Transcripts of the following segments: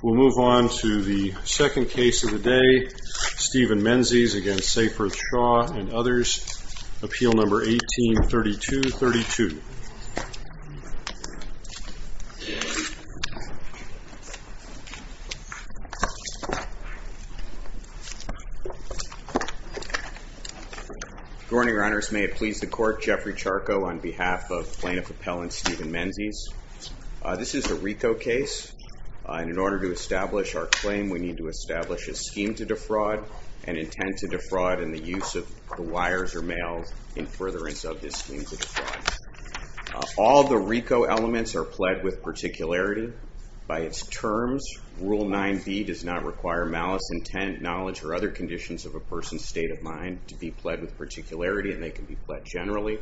We'll move on to the second case of the day, Stephen Menzies v. Seyfarth Shaw and others, appeal number 18-3232. Good morning, your honors. May it please the court, Jeffrey Charco on behalf of plaintiff We need to establish a scheme to defraud and intend to defraud in the use of the wires or mail in furtherance of this scheme to defraud. All the RICO elements are pled with particularity. By its terms, Rule 9b does not require malice, intent, knowledge, or other conditions of a person's state of mind to be pled with particularity, and they can be pled generally.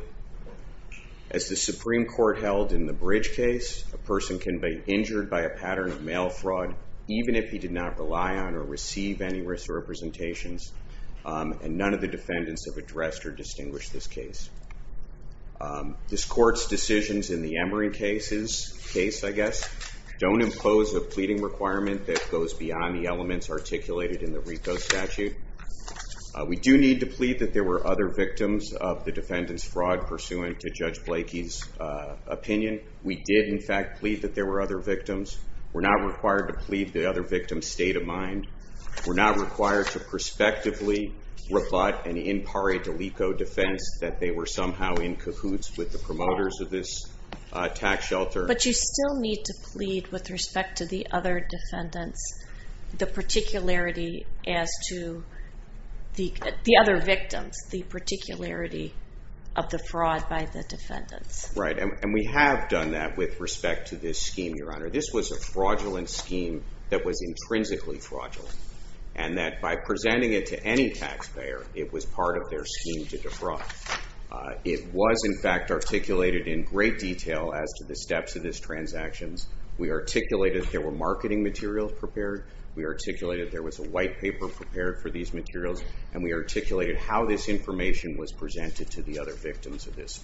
As the Supreme Court held in the Bridge case, a person can be injured by a pattern of mail fraud even if he did not rely on or receive any wrist representations, and none of the defendants have addressed or distinguished this case. This court's decisions in the Emory case don't impose a pleading requirement that goes beyond the elements articulated in the RICO statute. We do need to plead that there were other victims of the defendant's fraud pursuant to Judge Blakey's opinion. We did, in fact, plead that there were other victims. We're not required to plead the other victim's state of mind. We're not required to prospectively rebut an impare delico defense that they were somehow in cahoots with the promoters of this attack shelter. But you still need to plead with respect to the other defendants the particularity as to the other victims, the particularity of the fraud by the defendants. Right, and we have done that with respect to this scheme, Your Honor. This was a fraudulent scheme that was intrinsically fraudulent, and that by presenting it to any taxpayer, it was part of their scheme to defraud. It was, in fact, articulated in great detail as to the steps of this transaction. We articulated there were marketing materials prepared. We articulated there was a white paper prepared for these materials. And we articulated how this information was presented to the other victims of this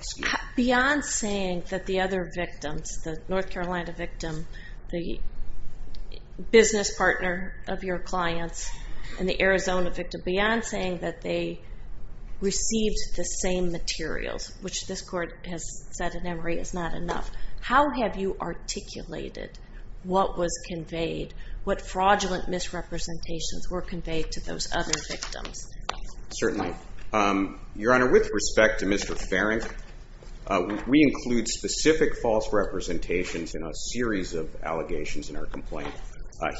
scheme. Beyond saying that the other victims, the North Carolina victim, the business partner of your clients, and the Arizona victim, beyond saying that they received the same materials, which this court has said in Emory is not enough, how have you articulated what was conveyed, what fraudulent misrepresentations were conveyed to those other victims? Certainly. Your Honor, with respect to Mr. Farrington, we include specific false representations in a series of allegations in our complaint.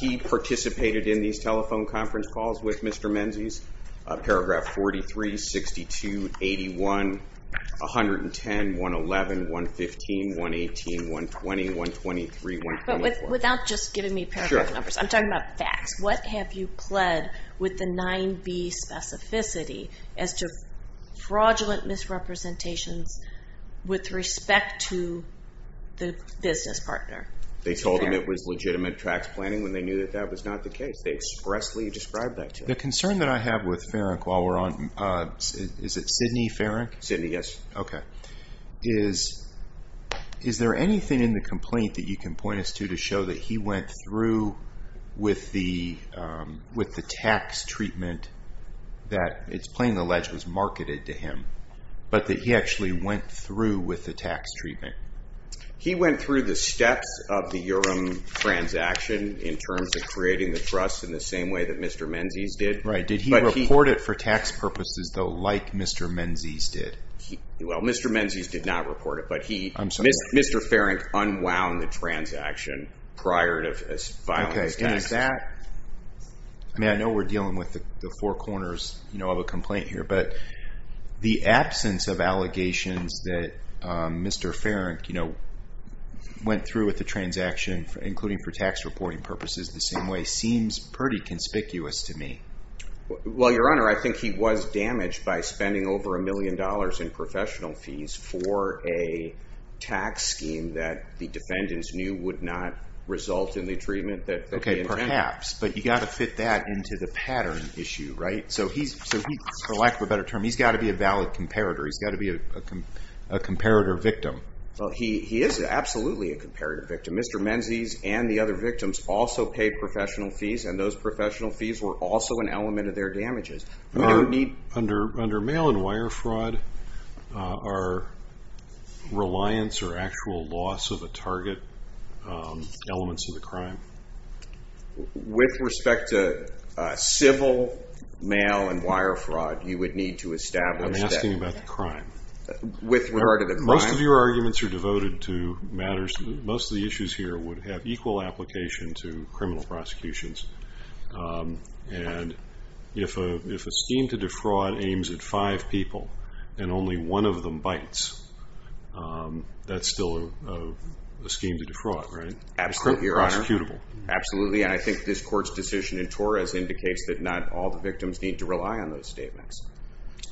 He participated in these telephone conference calls with Mr. Menzies, paragraph 43, 62, 81, 110, 111, 115, 118, 120, 123, 124. Without just giving me paragraph numbers, I'm talking about facts. What have you pled with the 9B specificity as to fraudulent misrepresentations with respect to the business partner? They told him it was legitimate tax planning when they knew that that was not the case. They expressly described that to us. The concern that I have with Farrington while we're on, is it Sidney Farrington? Sidney, yes. Okay. Is there anything in the complaint that you can point us to to show that he went through with the tax treatment that it's plain alleged was marketed to him, but that he actually went through with the tax treatment? He went through the steps of the Urim transaction in terms of creating the trust in the same way that Mr. Menzies did. Right. Did he report it for tax purposes, though, like Mr. Menzies did? Well, Mr. Menzies did not report it, but Mr. Farrington unwound the transaction prior to filing his taxes. I know we're dealing with the four corners of a complaint here, but the absence of allegations that Mr. Farrington went through with the transaction, including for tax reporting purposes the same way, seems pretty conspicuous to me. Well, Your Honor, I think he was damaged by spending over a million dollars in professional fees for a tax scheme that the defendants knew would not result in the treatment that they intended. Perhaps, but you've got to fit that into the pattern issue, right? So he, for lack of a better term, he's got to be a valid comparator. He's got to be a comparator victim. Well, he is absolutely a comparator victim. Mr. Menzies and the other victims also paid professional fees, and those professional fees were also an element of their damages. Under mail and wire fraud, are reliance or actual loss of a target elements of the crime? With respect to civil mail and wire fraud, you would need to establish that. I'm asking about the crime. With regard to the crime. Most of your arguments are devoted to matters, most of the issues here would have equal application to criminal prosecutions. And if a scheme to defraud aims at five people and only one of them bites, that's still a scheme to defraud, right? Absolutely, Your Honor. It's still prosecutable. Absolutely, and I think this court's decision in Torres indicates that not all the victims need to rely on those statements.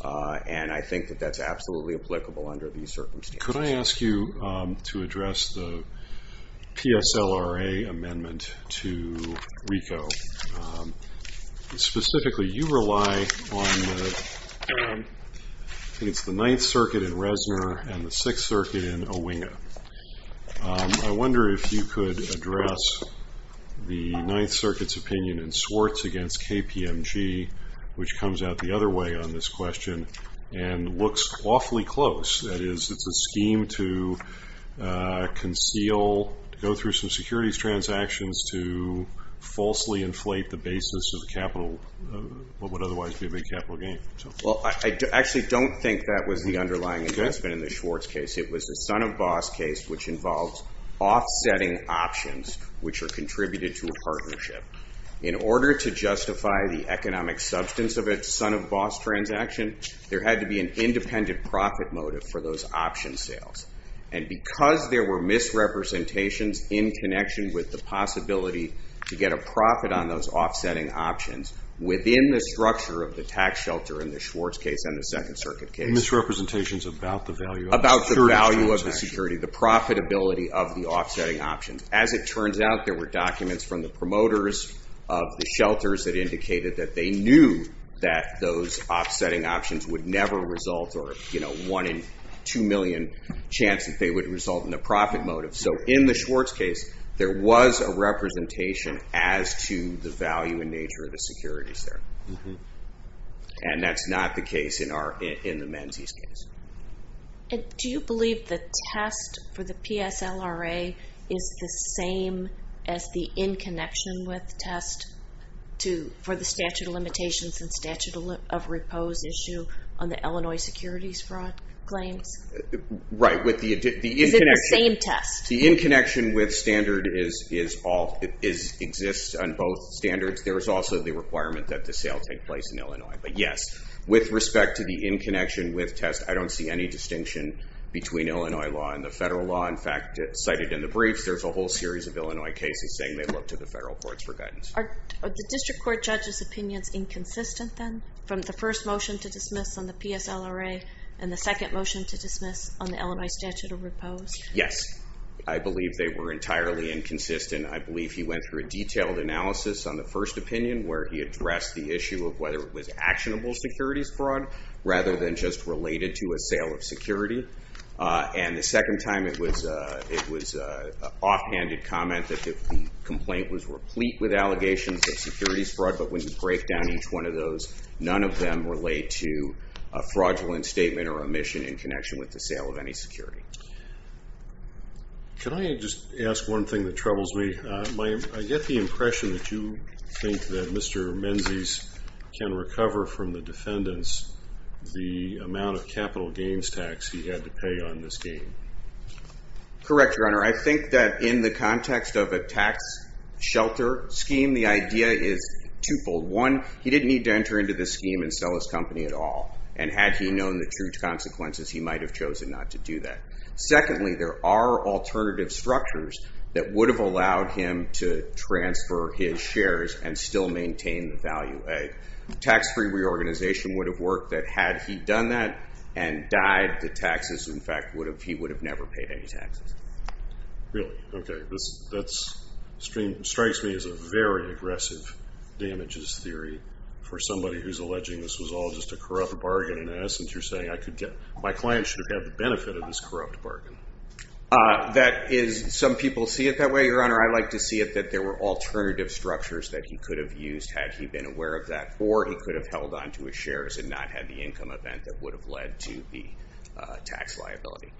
And I think that that's absolutely applicable under these circumstances. Could I ask you to address the PSLRA amendment to RICO? Specifically, you rely on the Ninth Circuit in Reznor and the Sixth Circuit in Owinga. I wonder if you could address the Ninth Circuit's opinion in Swartz against KPMG, which comes out the other way on this question and looks awfully close. That is, it's a scheme to conceal, go through some securities transactions to falsely inflate the basis of what would otherwise be a big capital gain. Well, I actually don't think that was the underlying investment in the Schwartz case. It was the Son of Boss case, which involved offsetting options, which are contributed to a partnership. In order to justify the economic substance of its Son of Boss transaction, there had to be an independent profit motive for those option sales. And because there were misrepresentations in connection with the possibility to get a profit on those offsetting options within the structure of the tax shelter in the Schwartz case and the Second Circuit case. Misrepresentations about the value of the security transaction. About the value of the security, the profitability of the offsetting options. As it turns out, there were documents from the promoters of the shelters that indicated that they knew that those offsetting options would never result or one in two million chance that they would result in a profit motive. So in the Schwartz case, there was a representation as to the value and nature of the securities there. And that's not the case in the Menzies case. Do you believe the test for the PSLRA is the same as the in connection with test for the statute of limitations and statute of repose issue on the Illinois securities fraud claims? Right. Is it the same test? The in connection with standard exists on both standards. There is also the requirement that the sale take place in Illinois. But yes, with respect to the in connection with test, I don't see any distinction between Illinois law and the federal law. In fact, cited in the briefs, there's a whole series of Illinois cases saying they look to the federal courts for guidance. Are the district court judge's opinions inconsistent then from the first motion to dismiss on the PSLRA and the second motion to dismiss on the Illinois statute of repose? Yes. I believe they were entirely inconsistent. I believe he went through a detailed analysis on the first opinion where he addressed the issue of whether it was actionable securities fraud rather than just related to a sale of security. And the second time, it was an offhanded comment that the complaint was replete with allegations of securities fraud. But when you break down each one of those, none of them relate to a fraudulent statement or omission in connection with the sale of any security. Can I just ask one thing that troubles me? I get the impression that you think that Mr. Menzies can recover from the defendants the amount of capital gains tax he had to pay on this game. Correct, Your Honor. I think that in the context of a tax shelter scheme, the idea is twofold. One, he didn't need to enter into this scheme and sell his company at all. And had he known the true consequences, he might have chosen not to do that. Secondly, there are alternative structures that would have allowed him to transfer his shares and still maintain the value. A tax-free reorganization would have worked that had he done that and died to taxes. In fact, he would have never paid any taxes. Really? Okay. That strikes me as a very aggressive damages theory for somebody who's alleging this was all just a corrupt bargain. In essence, you're saying my client should have had the benefit of this corrupt bargain. Some people see it that way, Your Honor. I like to see it that there were alternative structures that he could have used had he been aware of that. Or he could have held on to his shares and not had the income event that would have led to the tax liability.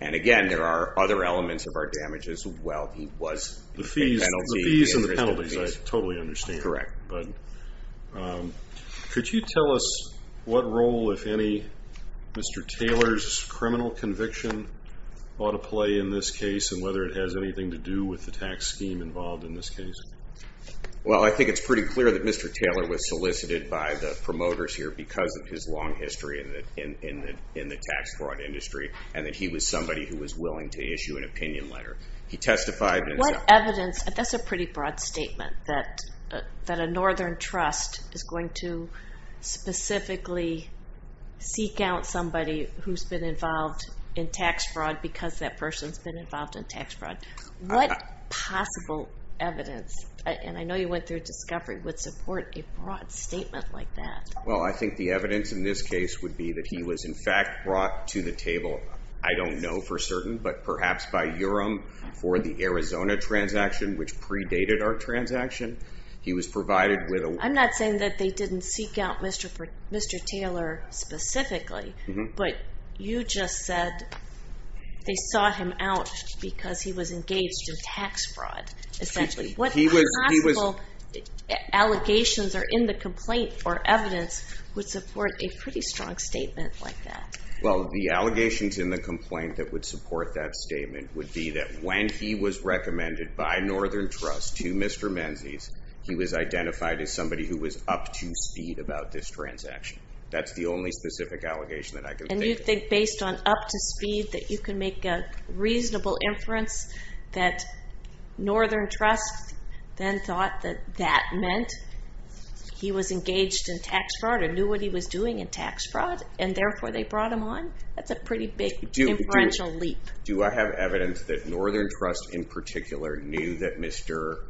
And, again, there are other elements of our damages. Well, he was a penalty. The fees and the penalties, I totally understand. Correct. But could you tell us what role, if any, Mr. Taylor's criminal conviction ought to play in this case and whether it has anything to do with the tax scheme involved in this case? Well, I think it's pretty clear that Mr. Taylor was solicited by the promoters here because of his long history in the tax fraud industry. And that he was somebody who was willing to issue an opinion letter. He testified. What evidence? That's a pretty broad statement that a northern trust is going to specifically seek out somebody who's been involved in tax fraud because that person's been involved in tax fraud. What possible evidence, and I know you went through a discovery, would support a broad statement like that? Well, I think the evidence in this case would be that he was, in fact, brought to the table, I don't know for certain, but perhaps by URIM for the Arizona transaction, which predated our transaction. He was provided with a- I'm not saying that they didn't seek out Mr. Taylor specifically. But you just said they sought him out because he was engaged in tax fraud, essentially. What possible allegations are in the complaint or evidence would support a pretty strong statement like that? Well, the allegations in the complaint that would support that statement would be that when he was recommended by northern trust to Mr. Menzies, he was identified as somebody who was up to speed about this transaction. That's the only specific allegation that I can think of. And based on up to speed that you can make a reasonable inference that northern trust then thought that that meant he was engaged in tax fraud and knew what he was doing in tax fraud, and therefore they brought him on? That's a pretty big inferential leap. Do I have evidence that northern trust in particular knew that Mr.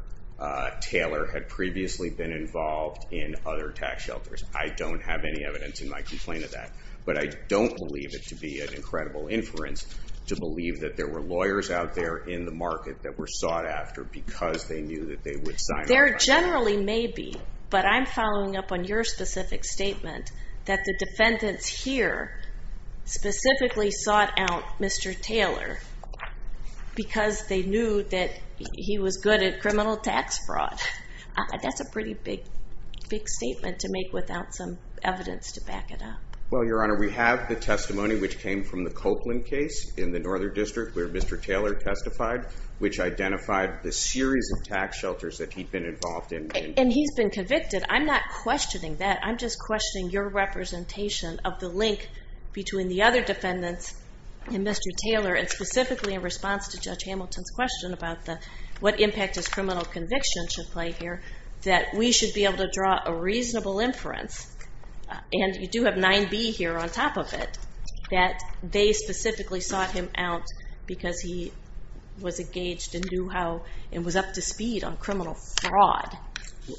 Taylor had previously been involved in other tax shelters? I don't have any evidence in my complaint of that. But I don't believe it to be an incredible inference to believe that there were lawyers out there in the market that were sought after because they knew that they would sign- There generally may be. But I'm following up on your specific statement that the defendants here specifically sought out Mr. Taylor because they knew that he was good at criminal tax fraud. That's a pretty big statement to make without some evidence to back it up. Well, Your Honor, we have the testimony which came from the Copeland case in the northern district where Mr. Taylor testified, which identified the series of tax shelters that he'd been involved in. And he's been convicted. I'm not questioning that. I'm just questioning your representation of the link between the other defendants and Mr. Taylor, and specifically in response to Judge Hamilton's question about what impact his criminal conviction should play here, that we should be able to draw a reasonable inference, and you do have 9B here on top of it, that they specifically sought him out because he was engaged and was up to speed on criminal fraud.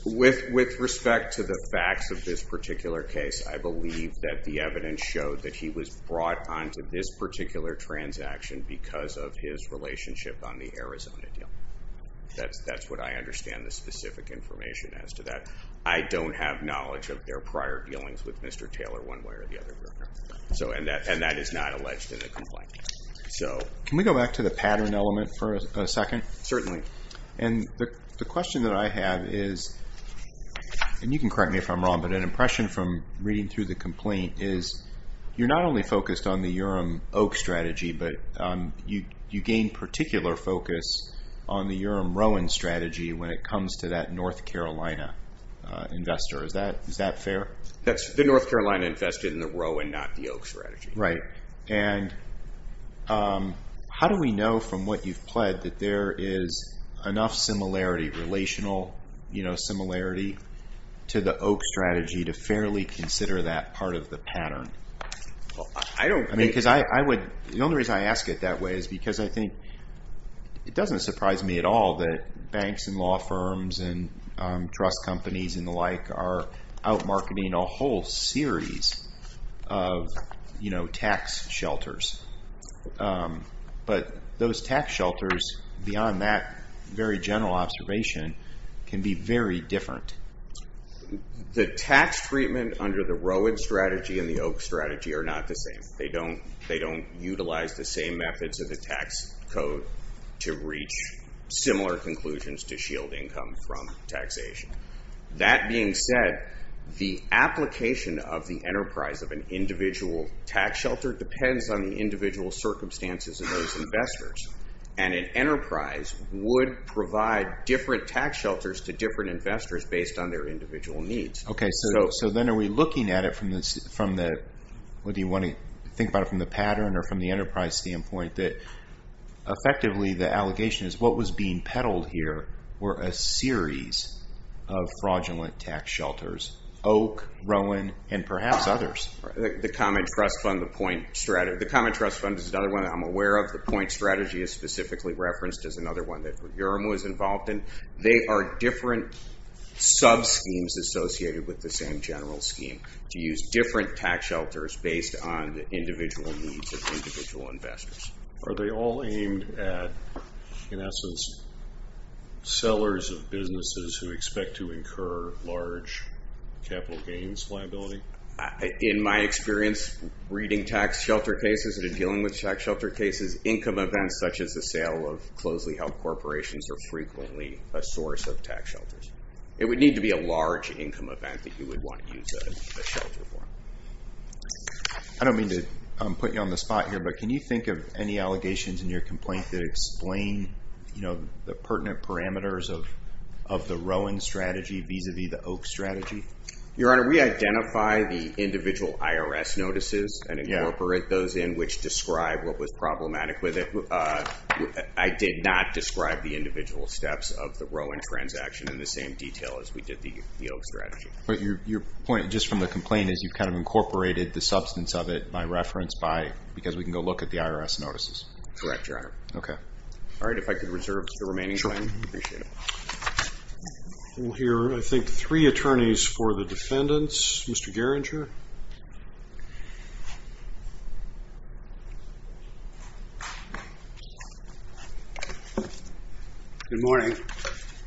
With respect to the facts of this particular case, I believe that the evidence showed that he was brought onto this particular transaction because of his relationship on the Arizona deal. That's what I understand the specific information as to that. I don't have knowledge of their prior dealings with Mr. Taylor one way or the other. And that is not alleged in the complaint. Can we go back to the pattern element for a second? Certainly. And the question that I have is, and you can correct me if I'm wrong, but an impression from reading through the complaint is you're not only focused on the Urim-Oak strategy, but you gain particular focus on the Urim-Rowan strategy when it comes to that North Carolina investor. Is that fair? That's the North Carolina invested in the Rowan, not the Oak strategy. Right. And how do we know from what you've pled that there is enough similarity, relational similarity, to the Oak strategy to fairly consider that part of the pattern? The only reason I ask it that way is because I think it doesn't surprise me at all that banks and law firms and trust companies and the like are out marketing a whole series of tax shelters. But those tax shelters, beyond that very general observation, can be very different. The tax treatment under the Rowan strategy and the Oak strategy are not the same. They don't utilize the same methods of the tax code to reach similar conclusions to shield income from taxation. That being said, the application of the enterprise of an individual tax shelter depends on the individual circumstances of those investors. And an enterprise would provide different tax shelters to different investors based on their individual needs. Okay, so then are we looking at it from the pattern or from the enterprise standpoint, that effectively the allegation is what was being peddled here were a series of fraudulent tax shelters. Oak, Rowan, and perhaps others. The Common Trust Fund is another one that I'm aware of. The Point strategy is specifically referenced as another one that Yerma was involved in. They are different sub-schemes associated with the same general scheme, to use different tax shelters based on the individual needs of individual investors. Are they all aimed at, in essence, sellers of businesses who expect to incur large capital gains liability? In my experience, reading tax shelter cases and dealing with tax shelter cases, income events such as the sale of closely held corporations are frequently a source of tax shelters. It would need to be a large income event that you would want to use a shelter for. I don't mean to put you on the spot here, but can you think of any allegations in your complaint that explain the pertinent parameters of the Rowan strategy vis-a-vis the Oak strategy? Your Honor, we identify the individual IRS notices and incorporate those in which describe what was problematic with it. I did not describe the individual steps of the Rowan transaction in the same detail as we did the Oak strategy. But your point, just from the complaint, is you've kind of incorporated the substance of it by reference because we can go look at the IRS notices. Correct, Your Honor. Okay. All right, if I could reserve the remaining time. Sure. I appreciate it. We'll hear, I think, three attorneys for the defendants. Mr. Gerringer. Good morning.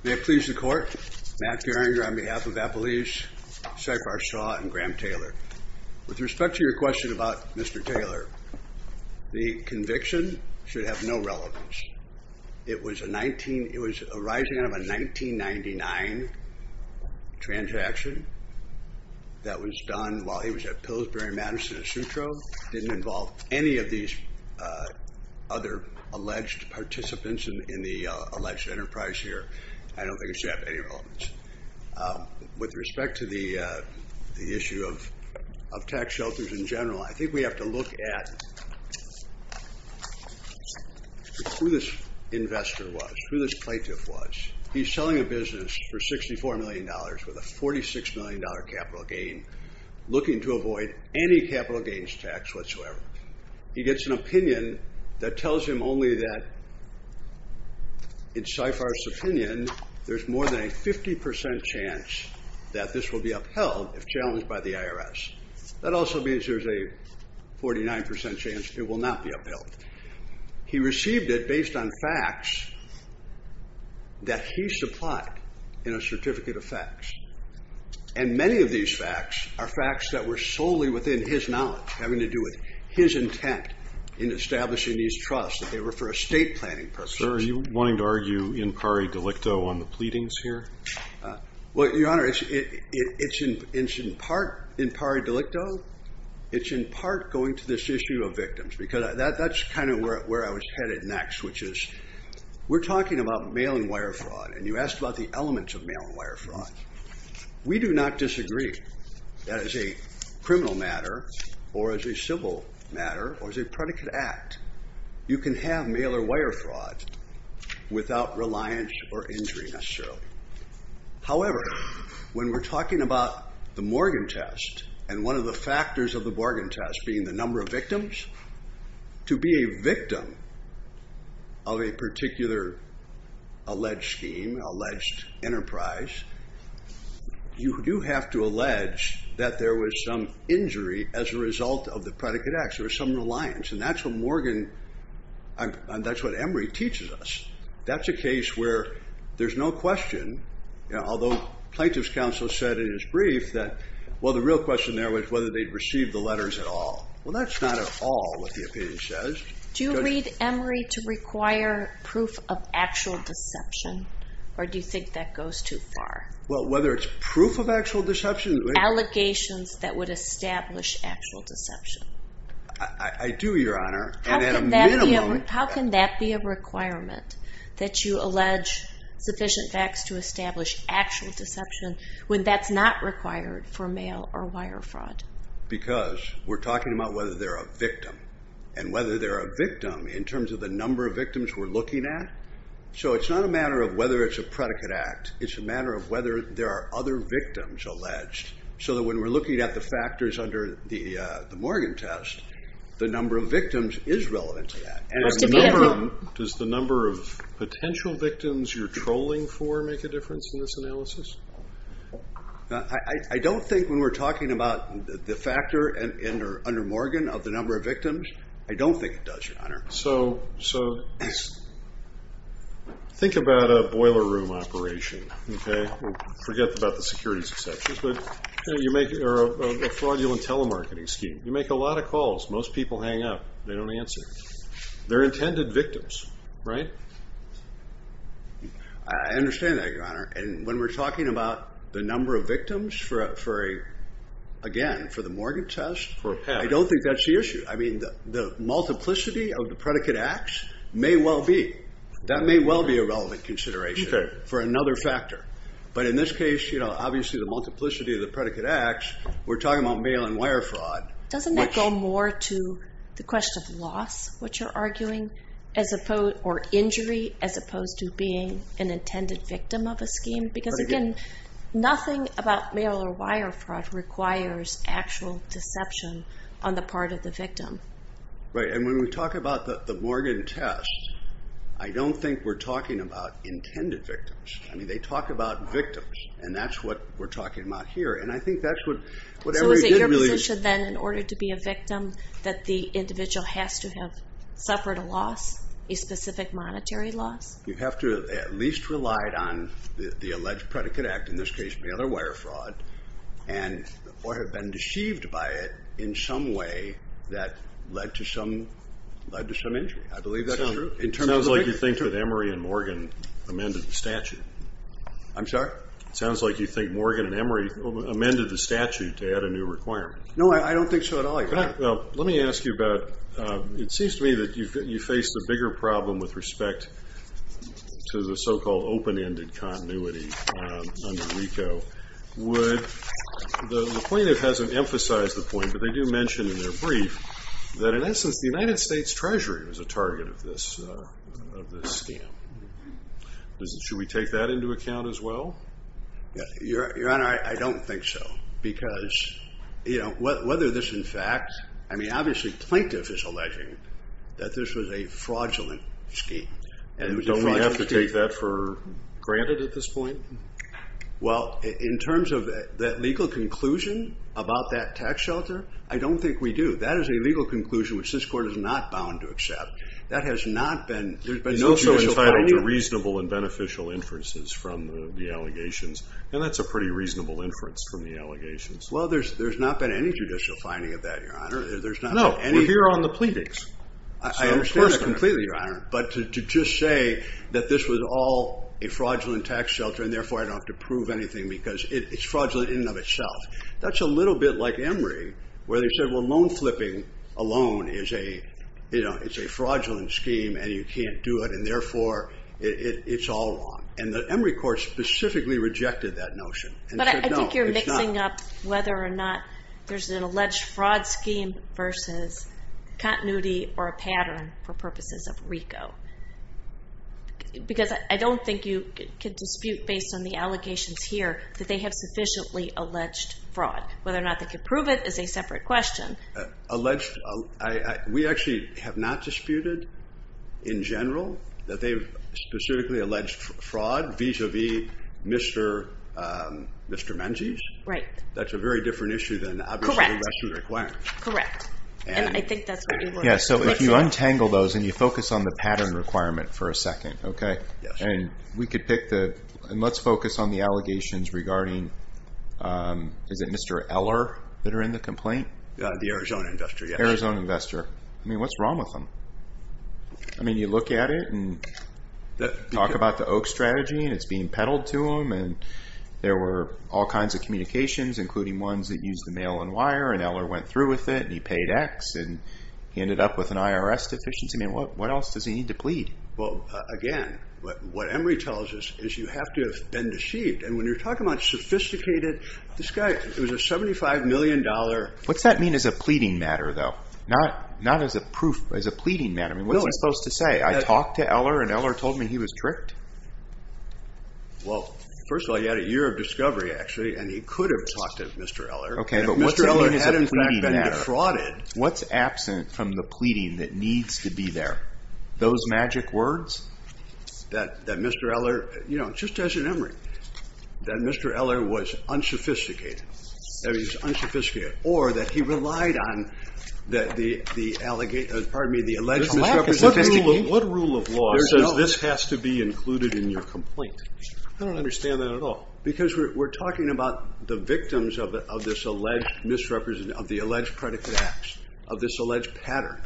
May it please the Court, Matt Gerringer on behalf of Appalachia, Seyfardt Shaw, and Graham Taylor. With respect to your question about Mr. Taylor, the conviction should have no relevance. It was arising out of a 1999 transaction that was done while he was at Pillsbury Madison Asutro. It didn't involve any of these other alleged participants in the alleged enterprise here. I don't think it should have any relevance. With respect to the issue of tax shelters in general, I think we have to look at who this investor was, who this plaintiff was. He's selling a business for $64 million with a $46 million capital gain, looking to avoid any capital gains tax whatsoever. He gets an opinion that tells him only that, in Seyfardt's opinion, there's more than a 50% chance that this will be upheld if challenged by the IRS. That also means there's a 49% chance it will not be upheld. He received it based on facts that he supplied in a certificate of facts. And many of these facts are facts that were solely within his knowledge, having to do with his intent in establishing these trusts, that they were for a state planning purpose. Sir, are you wanting to argue in pari delicto on the pleadings here? Well, Your Honor, it's in part in pari delicto. It's in part going to this issue of victims, because that's kind of where I was headed next, which is we're talking about mail and wire fraud, and you asked about the elements of mail and wire fraud. We do not disagree that as a criminal matter or as a civil matter or as a predicate act, you can have mail or wire fraud without reliance or injury necessarily. However, when we're talking about the Morgan test and one of the factors of the Morgan test being the number of victims, to be a victim of a particular alleged scheme, alleged enterprise, you do have to allege that there was some injury as a result of the predicate act. There was some reliance, and that's what Emory teaches us. That's a case where there's no question, although plaintiff's counsel said in his brief that, well, the real question there was whether they'd received the letters at all. Well, that's not at all what the opinion says. Do you lead Emory to require proof of actual deception, or do you think that goes too far? Well, whether it's proof of actual deception. Allegations that would establish actual deception. I do, Your Honor, and at a minimum. How can that be a requirement that you allege sufficient facts to establish actual deception when that's not required for mail or wire fraud? Because we're talking about whether they're a victim, and whether they're a victim in terms of the number of victims we're looking at. So it's not a matter of whether it's a predicate act. It's a matter of whether there are other victims alleged, so that when we're looking at the factors under the Morgan test, the number of victims is relevant to that. Does the number of potential victims you're trolling for make a difference in this analysis? I don't think when we're talking about the factor under Morgan of the number of victims, I don't think it does, Your Honor. So think about a boiler room operation, okay? Forget about the securities exceptions, but you make a fraudulent telemarketing scheme. You make a lot of calls. Most people hang up. They don't answer. They're intended victims, right? I understand that, Your Honor. And when we're talking about the number of victims, again, for the Morgan test, I don't think that's the issue. I mean the multiplicity of the predicate acts may well be. That may well be a relevant consideration for another factor. But in this case, you know, obviously the multiplicity of the predicate acts, we're talking about mail and wire fraud. Doesn't that go more to the question of loss, what you're arguing, or injury as opposed to being an intended victim of a scheme? Because, again, nothing about mail or wire fraud requires actual deception on the part of the victim. Right, and when we talk about the Morgan test, I don't think we're talking about intended victims. I mean they talk about victims, and that's what we're talking about here. And I think that's what every good really is. So is it your position then, in order to be a victim, that the individual has to have suffered a loss, a specific monetary loss? You have to have at least relied on the alleged predicate act, in this case mail or wire fraud, or have been deceived by it in some way that led to some injury. I believe that is true. It sounds like you think that Emory and Morgan amended the statute. I'm sorry? It sounds like you think Morgan and Emory amended the statute to add a new requirement. No, I don't think so at all. Let me ask you about, it seems to me that you face the bigger problem with respect to the so-called open-ended continuity under RICO. The plaintiff hasn't emphasized the point, but they do mention in their brief that, in essence, the United States Treasury was a target of this scam. Should we take that into account as well? Your Honor, I don't think so. Whether this, in fact, I mean, obviously, plaintiff is alleging that this was a fraudulent scheme. Don't we have to take that for granted at this point? Well, in terms of that legal conclusion about that tax shelter, I don't think we do. That is a legal conclusion which this Court is not bound to accept. That has not been, there's been no judicial finding. You're also entitled to reasonable and beneficial inferences from the allegations, and that's a pretty reasonable inference from the allegations. Well, there's not been any judicial finding of that, Your Honor. No, we're here on the pleadings. I understand that completely, Your Honor, but to just say that this was all a fraudulent tax shelter and, therefore, I don't have to prove anything because it's fraudulent in and of itself, that's a little bit like Emory where they said, well, loan flipping alone is a fraudulent scheme and you can't do it and, therefore, it's all wrong. And the Emory Court specifically rejected that notion. But I think you're mixing up whether or not there's an alleged fraud scheme versus continuity or a pattern for purposes of RICO because I don't think you can dispute based on the allegations here that they have sufficiently alleged fraud. Whether or not they can prove it is a separate question. Alleged, we actually have not disputed in general that they've specifically alleged fraud vis-à-vis Mr. Menzies. Right. That's a very different issue than obviously the rest of the requirements. Correct. And I think that's where Emory is. Yeah, so if you untangle those and you focus on the pattern requirement for a second, okay? Yes. And let's focus on the allegations regarding, is it Mr. Eller that are in the complaint? The Arizona investor, yes. The Arizona investor. I mean, what's wrong with him? I mean, you look at it and talk about the Oak strategy and it's being peddled to him and there were all kinds of communications including ones that used the mail and wire and Eller went through with it and he paid X and he ended up with an IRS deficiency. I mean, what else does he need to plead? Well, again, what Emory tells us is you have to have been deceived. And when you're talking about sophisticated, this guy, it was a $75 million. What's that mean as a pleading matter though? Not as a proof, but as a pleading matter. I mean, what's it supposed to say? I talked to Eller and Eller told me he was tricked? Well, first of all, you had a year of discovery actually and he could have talked to Mr. Eller. Okay, but what does it mean as a pleading matter? What's absent from the pleading that needs to be there? Those magic words? That Mr. Eller, you know, just as in Emory, that Mr. Eller was unsophisticated. That he was unsophisticated. Or that he relied on the alleged misrepresentation. What rule of law says this has to be included in your complaint? I don't understand that at all. Because we're talking about the victims of this alleged misrepresentation, of the alleged predicate acts, of this alleged pattern.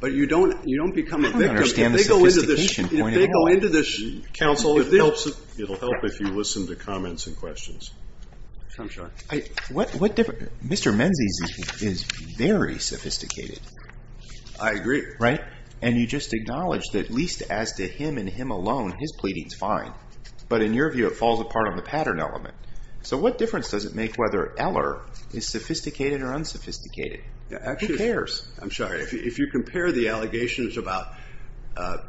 But you don't become a victim. I don't understand the sophistication point at all. If they go into this counsel, it will help if you listen to comments and questions. Mr. Menzies is very sophisticated. I agree. Right? And you just acknowledged that at least as to him and him alone, his pleading is fine. But in your view, it falls apart on the pattern element. So what difference does it make whether Eller is sophisticated or unsophisticated? Who cares? I'm sorry. If you compare the allegations about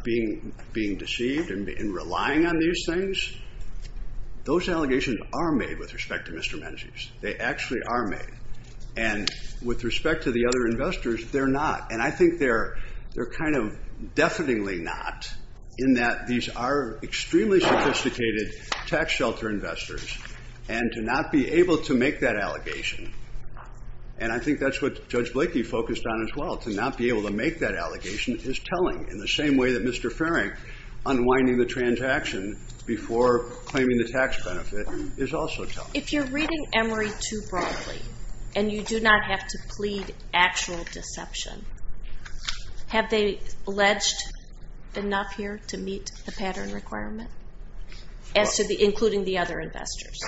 being deceived and relying on these things, those allegations are made with respect to Mr. Menzies. They actually are made. And with respect to the other investors, they're not. And I think they're kind of deafeningly not, in that these are extremely sophisticated tax shelter investors. And to not be able to make that allegation, and I think that's what Judge Blakey focused on as well, to not be able to make that allegation is telling. In the same way that Mr. Farring unwinding the transaction before claiming the tax benefit is also telling. If you're reading Emory too broadly and you do not have to plead actual deception, have they alleged enough here to meet the pattern requirement, including the other investors?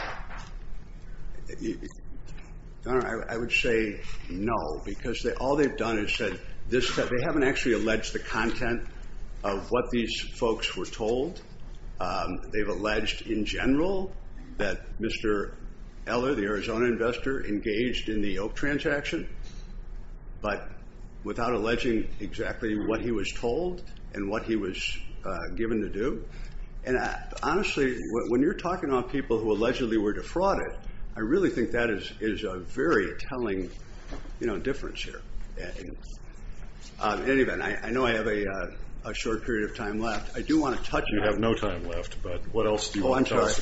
I would say no, because all they've done is said this. They haven't actually alleged the content of what these folks were told. They've alleged in general that Mr. Eller, the Arizona investor, engaged in the Oak transaction, but without alleging exactly what he was told and what he was given to do. And honestly, when you're talking about people who allegedly were defrauded, I really think that is a very telling difference here. In any event, I know I have a short period of time left. I do want to touch on that. You have no time left, but what else do you want to talk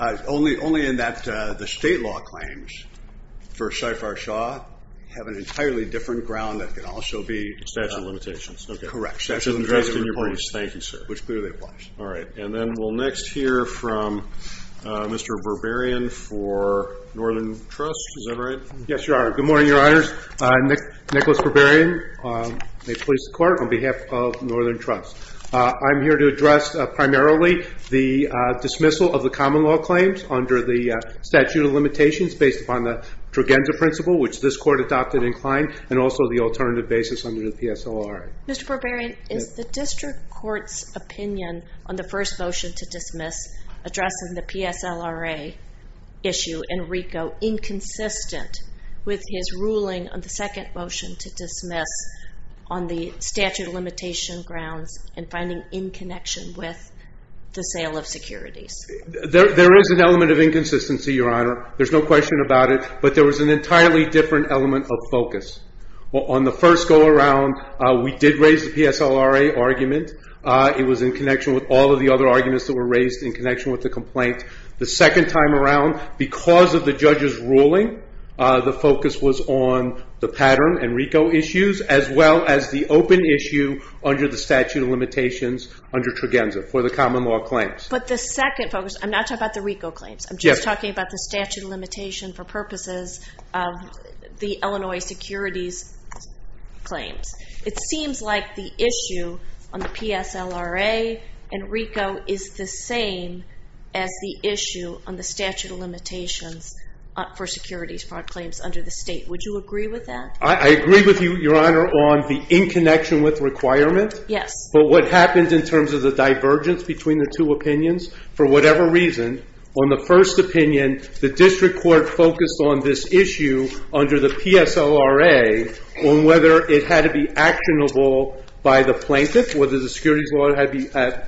about? Only in that the state law claims for Shifar Shaw have an entirely different ground that can also be a statute of limitations. Correct. That's in your briefs. Thank you, sir. Which clearly applies. All right. And then we'll next hear from Mr. Berberian for Northern Trust. Is that right? Yes, you are. Good morning, Your Honors. Nicholas Berberian. May it please the Court, on behalf of Northern Trust. I'm here to address primarily the dismissal of the common law claims under the statute of limitations based upon the Trogenza Principle, which this Court adopted in Klein, and also the alternative basis under the PSLRA. Mr. Berberian, is the district court's opinion on the first motion to dismiss addressing the PSLRA issue in RICO inconsistent with his ruling on the second motion to dismiss on the statute of limitation grounds and finding in connection with the sale of securities? There is an element of inconsistency, Your Honor. There's no question about it, but there was an entirely different element of focus. On the first go-around, we did raise the PSLRA argument. It was in connection with all of the other arguments that were raised in connection with the complaint. The second time around, because of the judge's ruling, the focus was on the pattern and RICO issues, as well as the open issue under the statute of limitations under Trogenza for the common law claims. But the second focus, I'm not talking about the RICO claims. I'm just talking about the statute of limitation for purposes of the Illinois securities claims. It seems like the issue on the PSLRA and RICO is the same as the issue on the statute of limitations for securities claims under the state. Would you agree with that? I agree with you, Your Honor, on the in connection with requirement. Yes. But what happens in terms of the divergence between the two opinions? For whatever reason, on the first opinion, the district court focused on this issue under the PSLRA on whether it had to be actionable by the plaintiff, whether the securities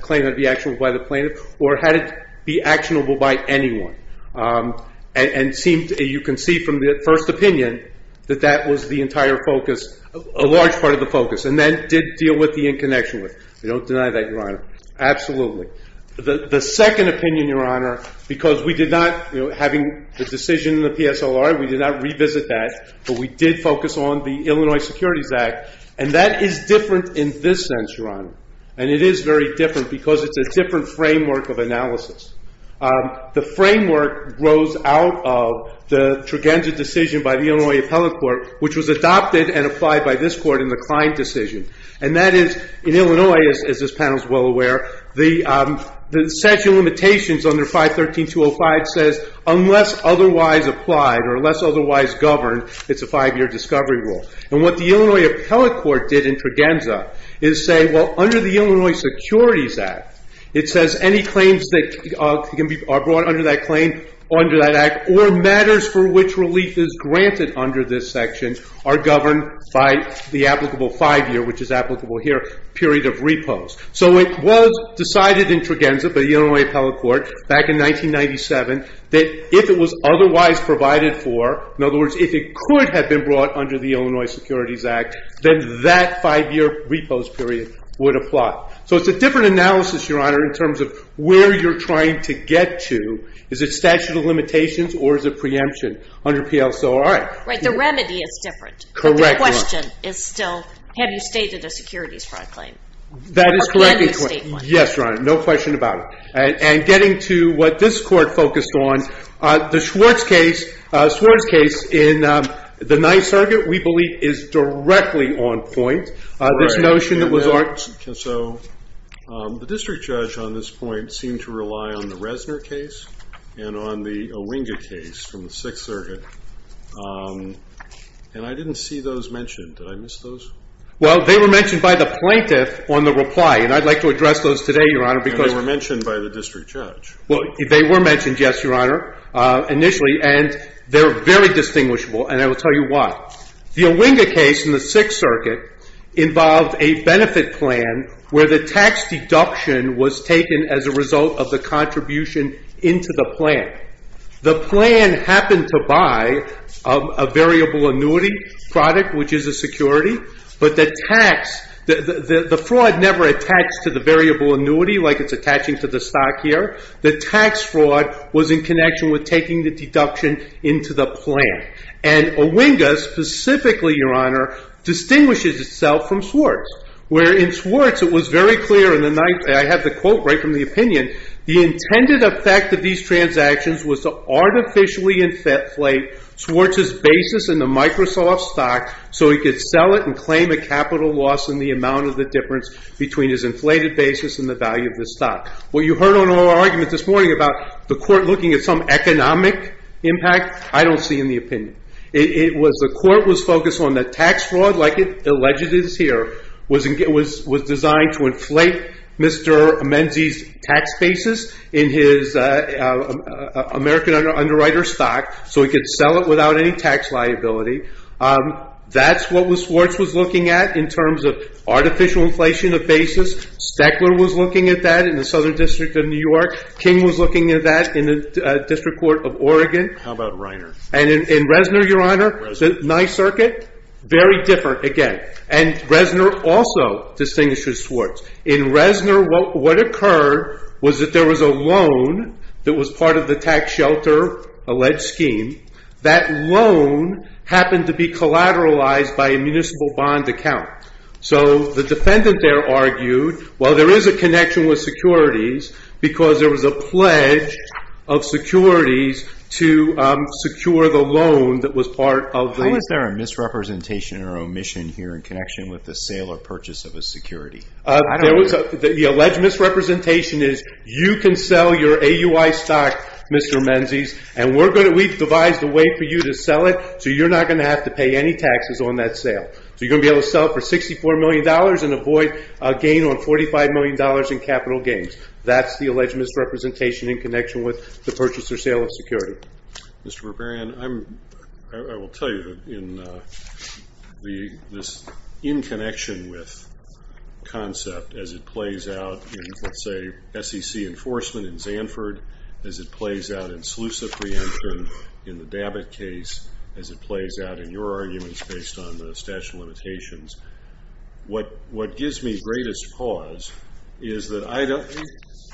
claim had to be actionable by the plaintiff, or had it be actionable by anyone. And you can see from the first opinion that that was the entire focus, a large part of the focus. And that did deal with the in connection with. I don't deny that, Your Honor. Absolutely. The second opinion, Your Honor, because we did not, having the decision in the PSLRA, we did not revisit that, but we did focus on the Illinois Securities Act. And that is different in this sense, Your Honor. And it is very different because it's a different framework of analysis. The framework grows out of the Trugenza decision by the Illinois Appellate Court, which was adopted and applied by this court in the Klein decision. And that is, in Illinois, as this panel is well aware, the statute of limitations under 513.205 says unless otherwise applied or unless otherwise governed, it's a five-year discovery rule. And what the Illinois Appellate Court did in Trugenza is say, well, under the Illinois Securities Act, it says any claims that are brought under that claim, under that act, or matters for which relief is granted under this section are governed by the applicable five-year, which is applicable here, period of repose. So it was decided in Trugenza by the Illinois Appellate Court back in 1997 that if it was otherwise provided for, in other words, if it could have been brought under the Illinois Securities Act, then that five-year repose period would apply. So it's a different analysis, Your Honor, in terms of where you're trying to get to. Is it statute of limitations or is it preemption under PLCORI? Right, the remedy is different. Correct, Your Honor. But the question is still, have you stated a securities fraud claim? That is correct. Yes, Your Honor, no question about it. And getting to what this court focused on, the Schwartz case, Schwartz case in the Ninth Circuit, we believe is directly on point. Right. This notion that was arched. So the district judge on this point seemed to rely on the Resner case and on the Owinga case from the Sixth Circuit, and I didn't see those mentioned. Did I miss those? Well, they were mentioned by the plaintiff on the reply, and I'd like to address those today, Your Honor, because And they were mentioned by the district judge. Well, they were mentioned, yes, Your Honor. Initially, and they're very distinguishable, and I will tell you why. The Owinga case in the Sixth Circuit involved a benefit plan where the tax deduction was taken as a result of the contribution into the plan. The plan happened to buy a variable annuity product, which is a security, but the tax, the fraud never attacks to the variable annuity, like it's attaching to the stock here. The tax fraud was in connection with taking the deduction into the plan. And Owinga, specifically, Your Honor, distinguishes itself from Swartz, where in Swartz, it was very clear, and I have the quote right from the opinion, the intended effect of these transactions was to artificially inflate Swartz's basis in the Microsoft stock so he could sell it and claim a capital loss in the amount of the difference between his inflated basis and the value of the stock. What you heard on our argument this morning about the court looking at some economic impact, I don't see in the opinion. The court was focused on the tax fraud, like it alleged is here, was designed to inflate Mr. Menzies' tax basis in his American Underwriter stock so he could sell it without any tax liability. That's what Swartz was looking at in terms of artificial inflation of basis. Steckler was looking at that in the Southern District of New York. King was looking at that in the District Court of Oregon. How about Reiner? And in Reznor, Your Honor, Nye Circuit, very different again. And Reznor also distinguishes Swartz. In Reznor, what occurred was that there was a loan that was part of the tax shelter alleged scheme. That loan happened to be collateralized by a municipal bond account. So the defendant there argued, well, there is a connection with securities because there was a pledge of securities to secure the loan that was part of the- How is there a misrepresentation or omission here in connection with the sale or purchase of a security? The alleged misrepresentation is you can sell your AUI stock, Mr. Menzies, and we've devised a way for you to sell it so you're not going to have to pay any taxes on that sale. So you're going to be able to sell it for $64 million and avoid a gain on $45 million in capital gains. That's the alleged misrepresentation in connection with the purchase or sale of security. Mr. Berberian, I will tell you that in this in connection with concept as it plays out in, let's say, SEC enforcement in Zanford, as it plays out in SLUSA preemption in the Dabbitt case, as it plays out in your arguments based on the statute of limitations, what gives me greatest pause is that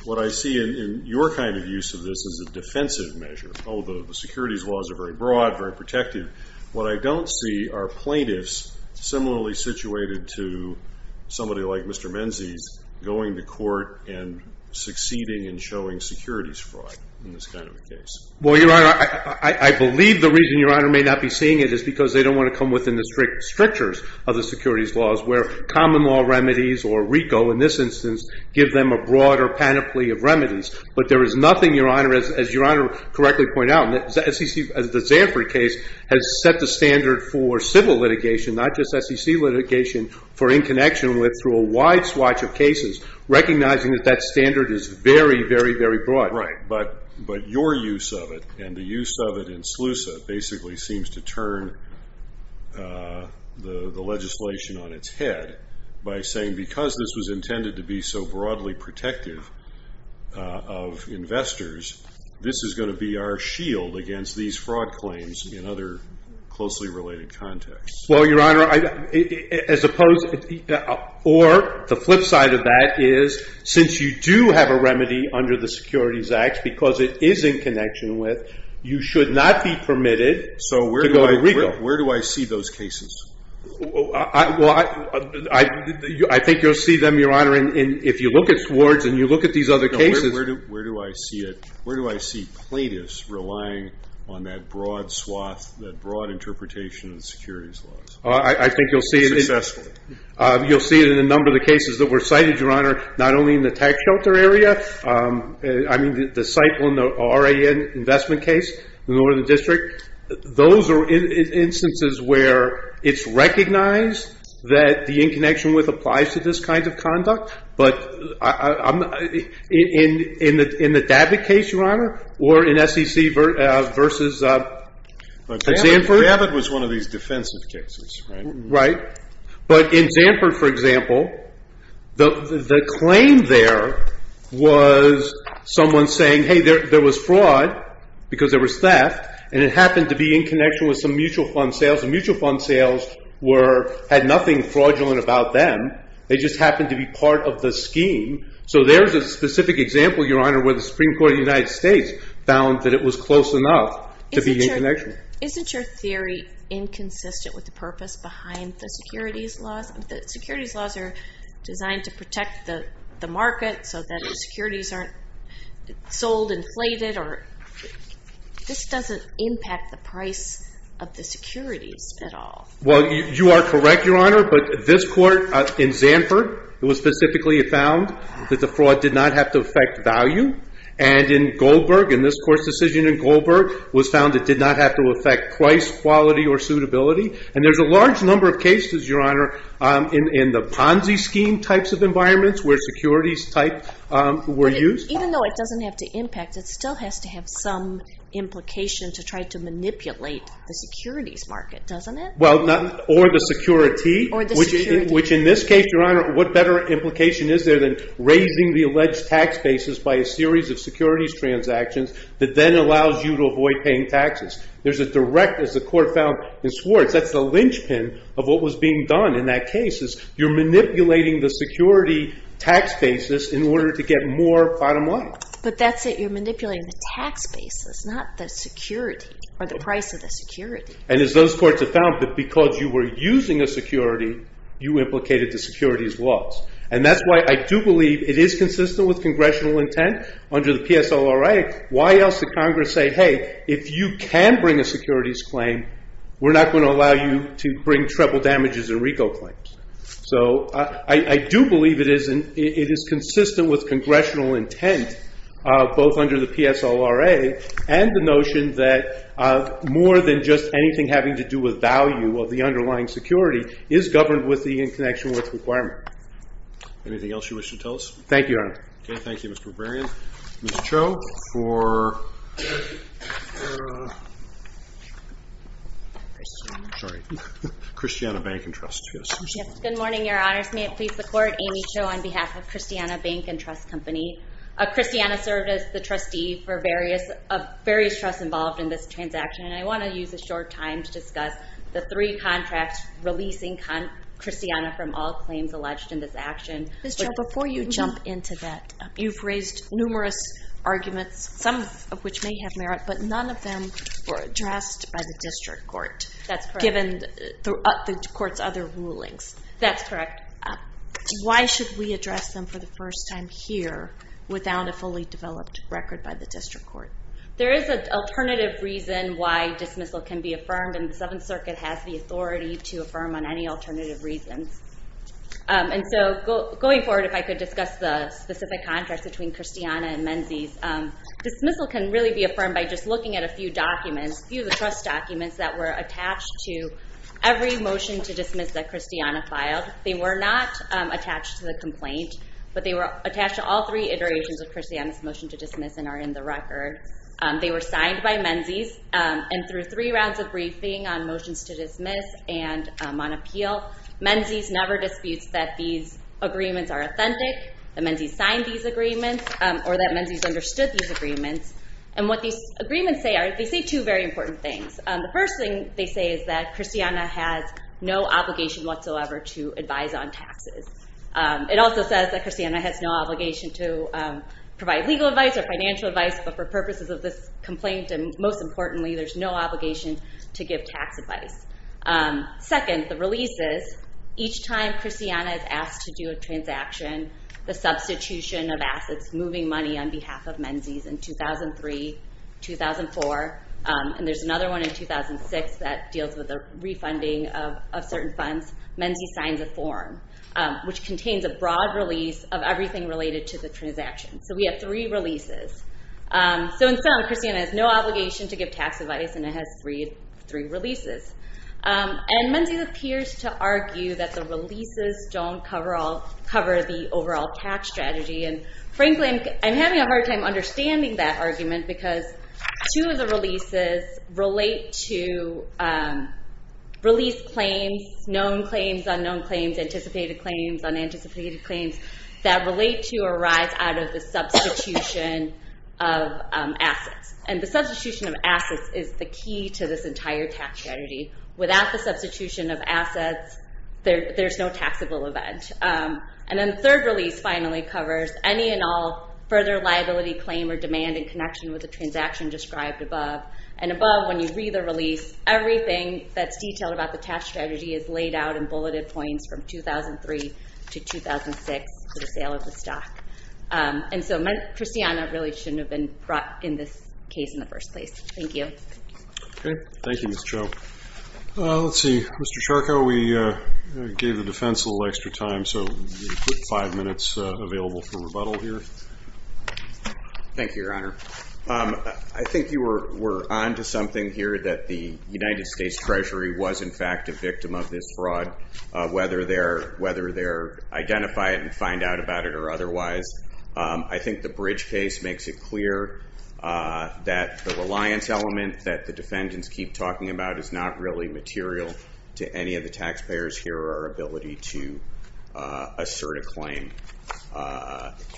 what I see in your kind of use of this as a defensive measure, although the securities laws are very broad, very protective, what I don't see are plaintiffs similarly situated to somebody like Mr. Menzies going to court and succeeding in showing securities fraud in this kind of a case. Well, Your Honor, I believe the reason Your Honor may not be seeing it is because they don't want to come within the strictures of the securities laws where common law remedies or RICO in this instance give them a broader panoply of remedies. But there is nothing, Your Honor, as Your Honor correctly pointed out, the Zanford case has set the standard for civil litigation, not just SEC litigation, for in connection with through a wide swatch of cases recognizing that that standard is very, very, very broad. Right. But your use of it and the use of it in SLUSA basically seems to turn the legislation on its head by saying because this was intended to be so broadly protective of investors, this is going to be our shield against these fraud claims in other closely related contexts. Well, Your Honor, or the flip side of that is since you do have a remedy under the Securities Act because it is in connection with, you should not be permitted to go to RICO. So where do I see those cases? Well, I think you'll see them, Your Honor, if you look at wards and you look at these other cases. Where do I see it? Where do I see PLATIS relying on that broad swath, that broad interpretation of the securities laws? I think you'll see it. Successfully. You'll see it in a number of the cases that were cited, Your Honor, not only in the tax shelter area. I mean, the cycle in the RIN investment case in the Northern District. Those are instances where it's recognized that the in connection with applies to this kind of conduct. But in the DAVID case, Your Honor, or in SEC versus Zanford. But DAVID was one of these defensive cases, right? But in Zanford, for example, the claim there was someone saying, hey, there was fraud because there was theft, and it happened to be in connection with some mutual fund sales. The mutual fund sales had nothing fraudulent about them. They just happened to be part of the scheme. So there's a specific example, Your Honor, where the Supreme Court of the United States found that it was close enough to be in connection. Isn't your theory inconsistent with the purpose behind the securities laws? The securities laws are designed to protect the market so that securities aren't sold inflated. This doesn't impact the price of the securities at all. Well, you are correct, Your Honor, but this court in Zanford, it was specifically found that the fraud did not have to affect value. And in Goldberg, in this court's decision in Goldberg, was found it did not have to affect price, quality, or suitability. And there's a large number of cases, Your Honor, in the Ponzi scheme types of environments where securities type were used. But even though it doesn't have to impact, it still has to have some implication to try to manipulate the securities market, doesn't it? Well, or the security. Or the security. Which in this case, Your Honor, what better implication is there than raising the alleged tax basis by a series of securities transactions that then allows you to avoid paying taxes? There's a direct, as the court found in Swartz, that's the linchpin of what was being done in that case. You're manipulating the security tax basis in order to get more bottom line. But that's it, you're manipulating the tax basis, not the security or the price of the security. And as those courts have found, that because you were using a security, you implicated the securities laws. And that's why I do believe it is consistent with congressional intent under the PSLRA. Why else did Congress say, hey, if you can bring a securities claim, we're not going to allow you to bring treble damages or RICO claims. So I do believe it is consistent with congressional intent, both under the PSLRA and the notion that more than just anything having to do with value of the underlying security is governed with the in connection with requirement. Anything else you wish to tell us? Thank you, Your Honor. Okay, thank you, Mr. Barbarian. Ms. Cho, for, sorry, Christiana Bank and Trust. Good morning, Your Honors. May it please the Court. Amy Cho on behalf of Christiana Bank and Trust Company. Christiana served as the trustee for various trusts involved in this transaction. And I want to use a short time to discuss the three contracts releasing Christiana from all claims alleged in this action. Ms. Cho, before you jump into that, you've raised numerous arguments, some of which may have merit, but none of them were addressed by the district court. That's correct. And the court's other rulings. That's correct. Why should we address them for the first time here without a fully developed record by the district court? There is an alternative reason why dismissal can be affirmed, and the Seventh Circuit has the authority to affirm on any alternative reasons. And so going forward, if I could discuss the specific contracts between Christiana and Menzies. Dismissal can really be affirmed by just looking at a few documents, a few of the trust documents that were attached to every motion to dismiss that Christiana filed. They were not attached to the complaint, but they were attached to all three iterations of Christiana's motion to dismiss and are in the record. They were signed by Menzies, and through three rounds of briefing on motions to dismiss and on appeal, Menzies never disputes that these agreements are authentic, that Menzies signed these agreements, or that Menzies understood these agreements. And what these agreements say, they say two very important things. The first thing they say is that Christiana has no obligation whatsoever to advise on taxes. It also says that Christiana has no obligation to provide legal advice or financial advice, but for purposes of this complaint, and most importantly, there's no obligation to give tax advice. Second, the releases, each time Christiana is asked to do a transaction, the substitution of assets, moving money on behalf of Menzies in 2003, 2004, and there's another one in 2006 that deals with the refunding of certain funds, Menzies signs a form, which contains a broad release of everything related to the transaction. So we have three releases. So in sum, Christiana has no obligation to give tax advice, and it has three releases. And Menzies appears to argue that the releases don't cover the overall tax strategy, and frankly, I'm having a hard time understanding that argument, because two of the releases relate to release claims, known claims, unknown claims, anticipated claims, unanticipated claims, that relate to or arise out of the substitution of assets. And the substitution of assets is the key to this entire tax strategy. Without the substitution of assets, there's no taxable event. And then the third release finally covers any and all further liability claim or demand in connection with the transaction described above. And above, when you read the release, everything that's detailed about the tax strategy is laid out in bulleted points from 2003 to 2006 for the sale of the stock. And so Christiana really shouldn't have been brought in this case in the first place. Thank you. Okay. Thank you, Ms. Cho. Let's see. Mr. Charco, we gave the defense a little extra time, so we put five minutes available for rebuttal here. Thank you, Your Honor. I think you were on to something here, that the United States Treasury was, in fact, a victim of this fraud, whether they're identified and find out about it or otherwise. I think the Bridge case makes it clear that the reliance element that the defendants keep talking about is not really material to any of the taxpayers here or our ability to assert a claim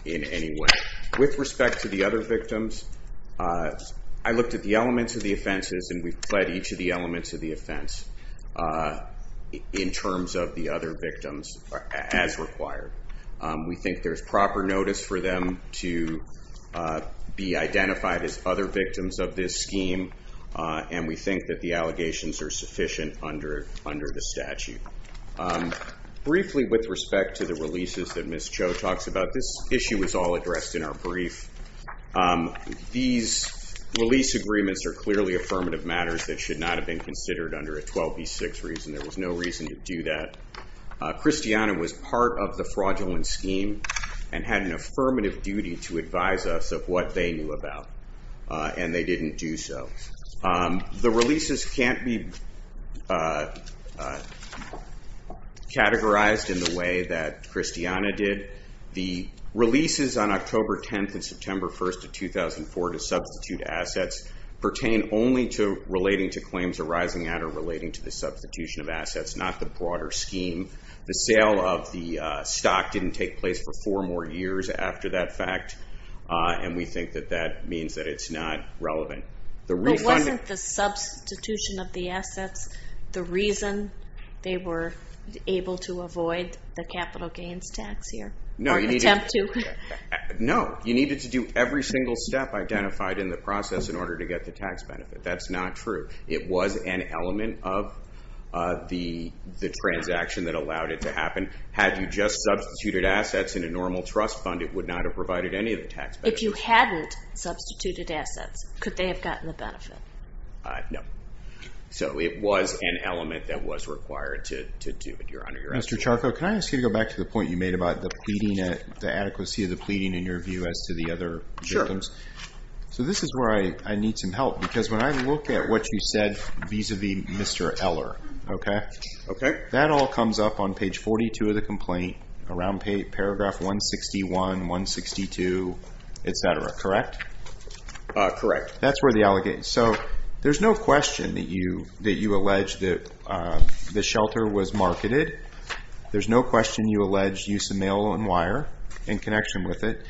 in any way. With respect to the other victims, I looked at the elements of the offenses, and we've fled each of the elements of the offense in terms of the other victims as required. We think there's proper notice for them to be identified as other victims of this scheme, and we think that the allegations are sufficient under the statute. Briefly, with respect to the releases that Ms. Cho talks about, this issue was all addressed in our brief. These release agreements are clearly affirmative matters that should not have been considered under a 12B6 reason. There was no reason to do that. Christiana was part of the fraudulent scheme and had an affirmative duty to advise us of what they knew about, and they didn't do so. The releases can't be categorized in the way that Christiana did. The releases on October 10th and September 1st of 2004 to substitute assets pertain only to relating to claims arising at or relating to the substitution of assets, not the broader scheme. The sale of the stock didn't take place for four more years after that fact, and we think that that means that it's not relevant. But wasn't the substitution of the assets the reason they were able to avoid the capital gains tax here? No, you needed to do every single step identified in the process in order to get the tax benefit. That's not true. It was an element of the transaction that allowed it to happen. Had you just substituted assets in a normal trust fund, it would not have provided any of the tax benefits. If you hadn't substituted assets, could they have gotten the benefit? No. So it was an element that was required to do it. Your Honor. Mr. Charco, can I ask you to go back to the point you made about the pleading, the adequacy of the pleading in your view as to the other victims? Sure. So this is where I need some help, because when I look at what you said vis-a-vis Mr. Eller, okay? Okay. That all comes up on page 42 of the complaint, around paragraph 161, 162, et cetera, correct? Correct. That's where the allegation is. So there's no question that you allege that the shelter was marketed. There's no question you allege use of mail and wire in connection with it.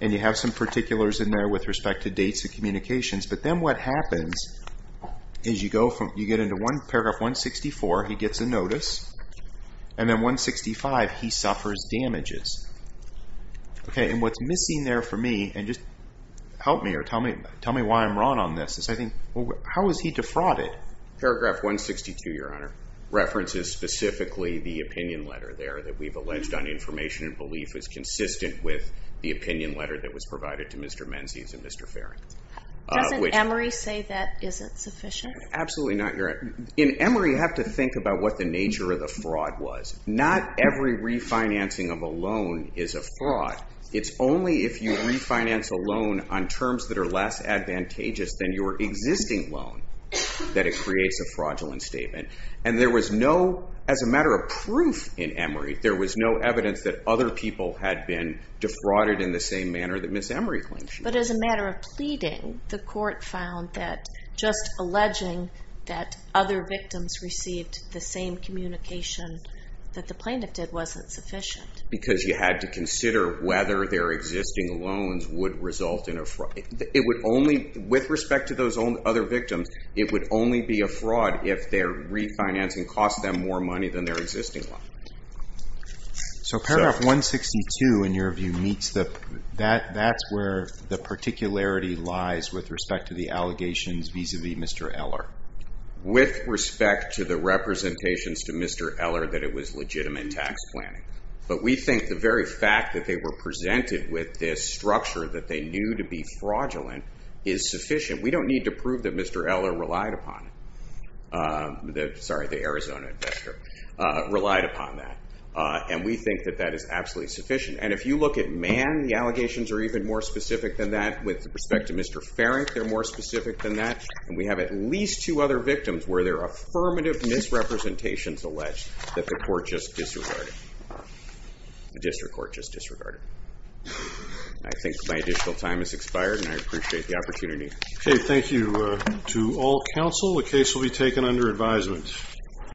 And you have some particulars in there with respect to dates of communications. But then what happens is you get into paragraph 164, he gets a notice, and then 165, he suffers damages. Okay. And what's missing there for me, and just help me or tell me why I'm wrong on this, is I think how was he defrauded? Paragraph 162, Your Honor, references specifically the opinion letter there that we've alleged on information and belief is consistent with the opinion letter that was provided to Mr. Menzies and Mr. Farrington. Doesn't Emory say that isn't sufficient? Absolutely not, Your Honor. In Emory, you have to think about what the nature of the fraud was. Not every refinancing of a loan is a fraud. It's only if you refinance a loan on terms that are less advantageous than your existing loan that it creates a fraudulent statement. And there was no, as a matter of proof in Emory, there was no evidence that other people had been defrauded in the same manner that Ms. Emory claims she was. But as a matter of pleading, the court found that just alleging that other victims received the same communication that the plaintiff did wasn't sufficient. Because you had to consider whether their existing loans would result in a fraud. It would only, with respect to those other victims, it would only be a fraud if their refinancing cost them more money than their existing loan. So paragraph 162, in your view, meets the, that's where the particularity lies with respect to the allegations vis-a-vis Mr. Eller. With respect to the representations to Mr. Eller that it was legitimate tax planning. But we think the very fact that they were presented with this structure that they knew to be fraudulent is sufficient. We don't need to prove that Mr. Eller relied upon it. Sorry, the Arizona investor relied upon that. And we think that that is absolutely sufficient. And if you look at Mann, the allegations are even more specific than that. With respect to Mr. Farrington, they're more specific than that. And we have at least two other victims where there are affirmative misrepresentations alleged that the court just disregarded. The district court just disregarded. I think my additional time has expired, and I appreciate the opportunity. Okay, thank you to all counsel. The case will be taken under advisement.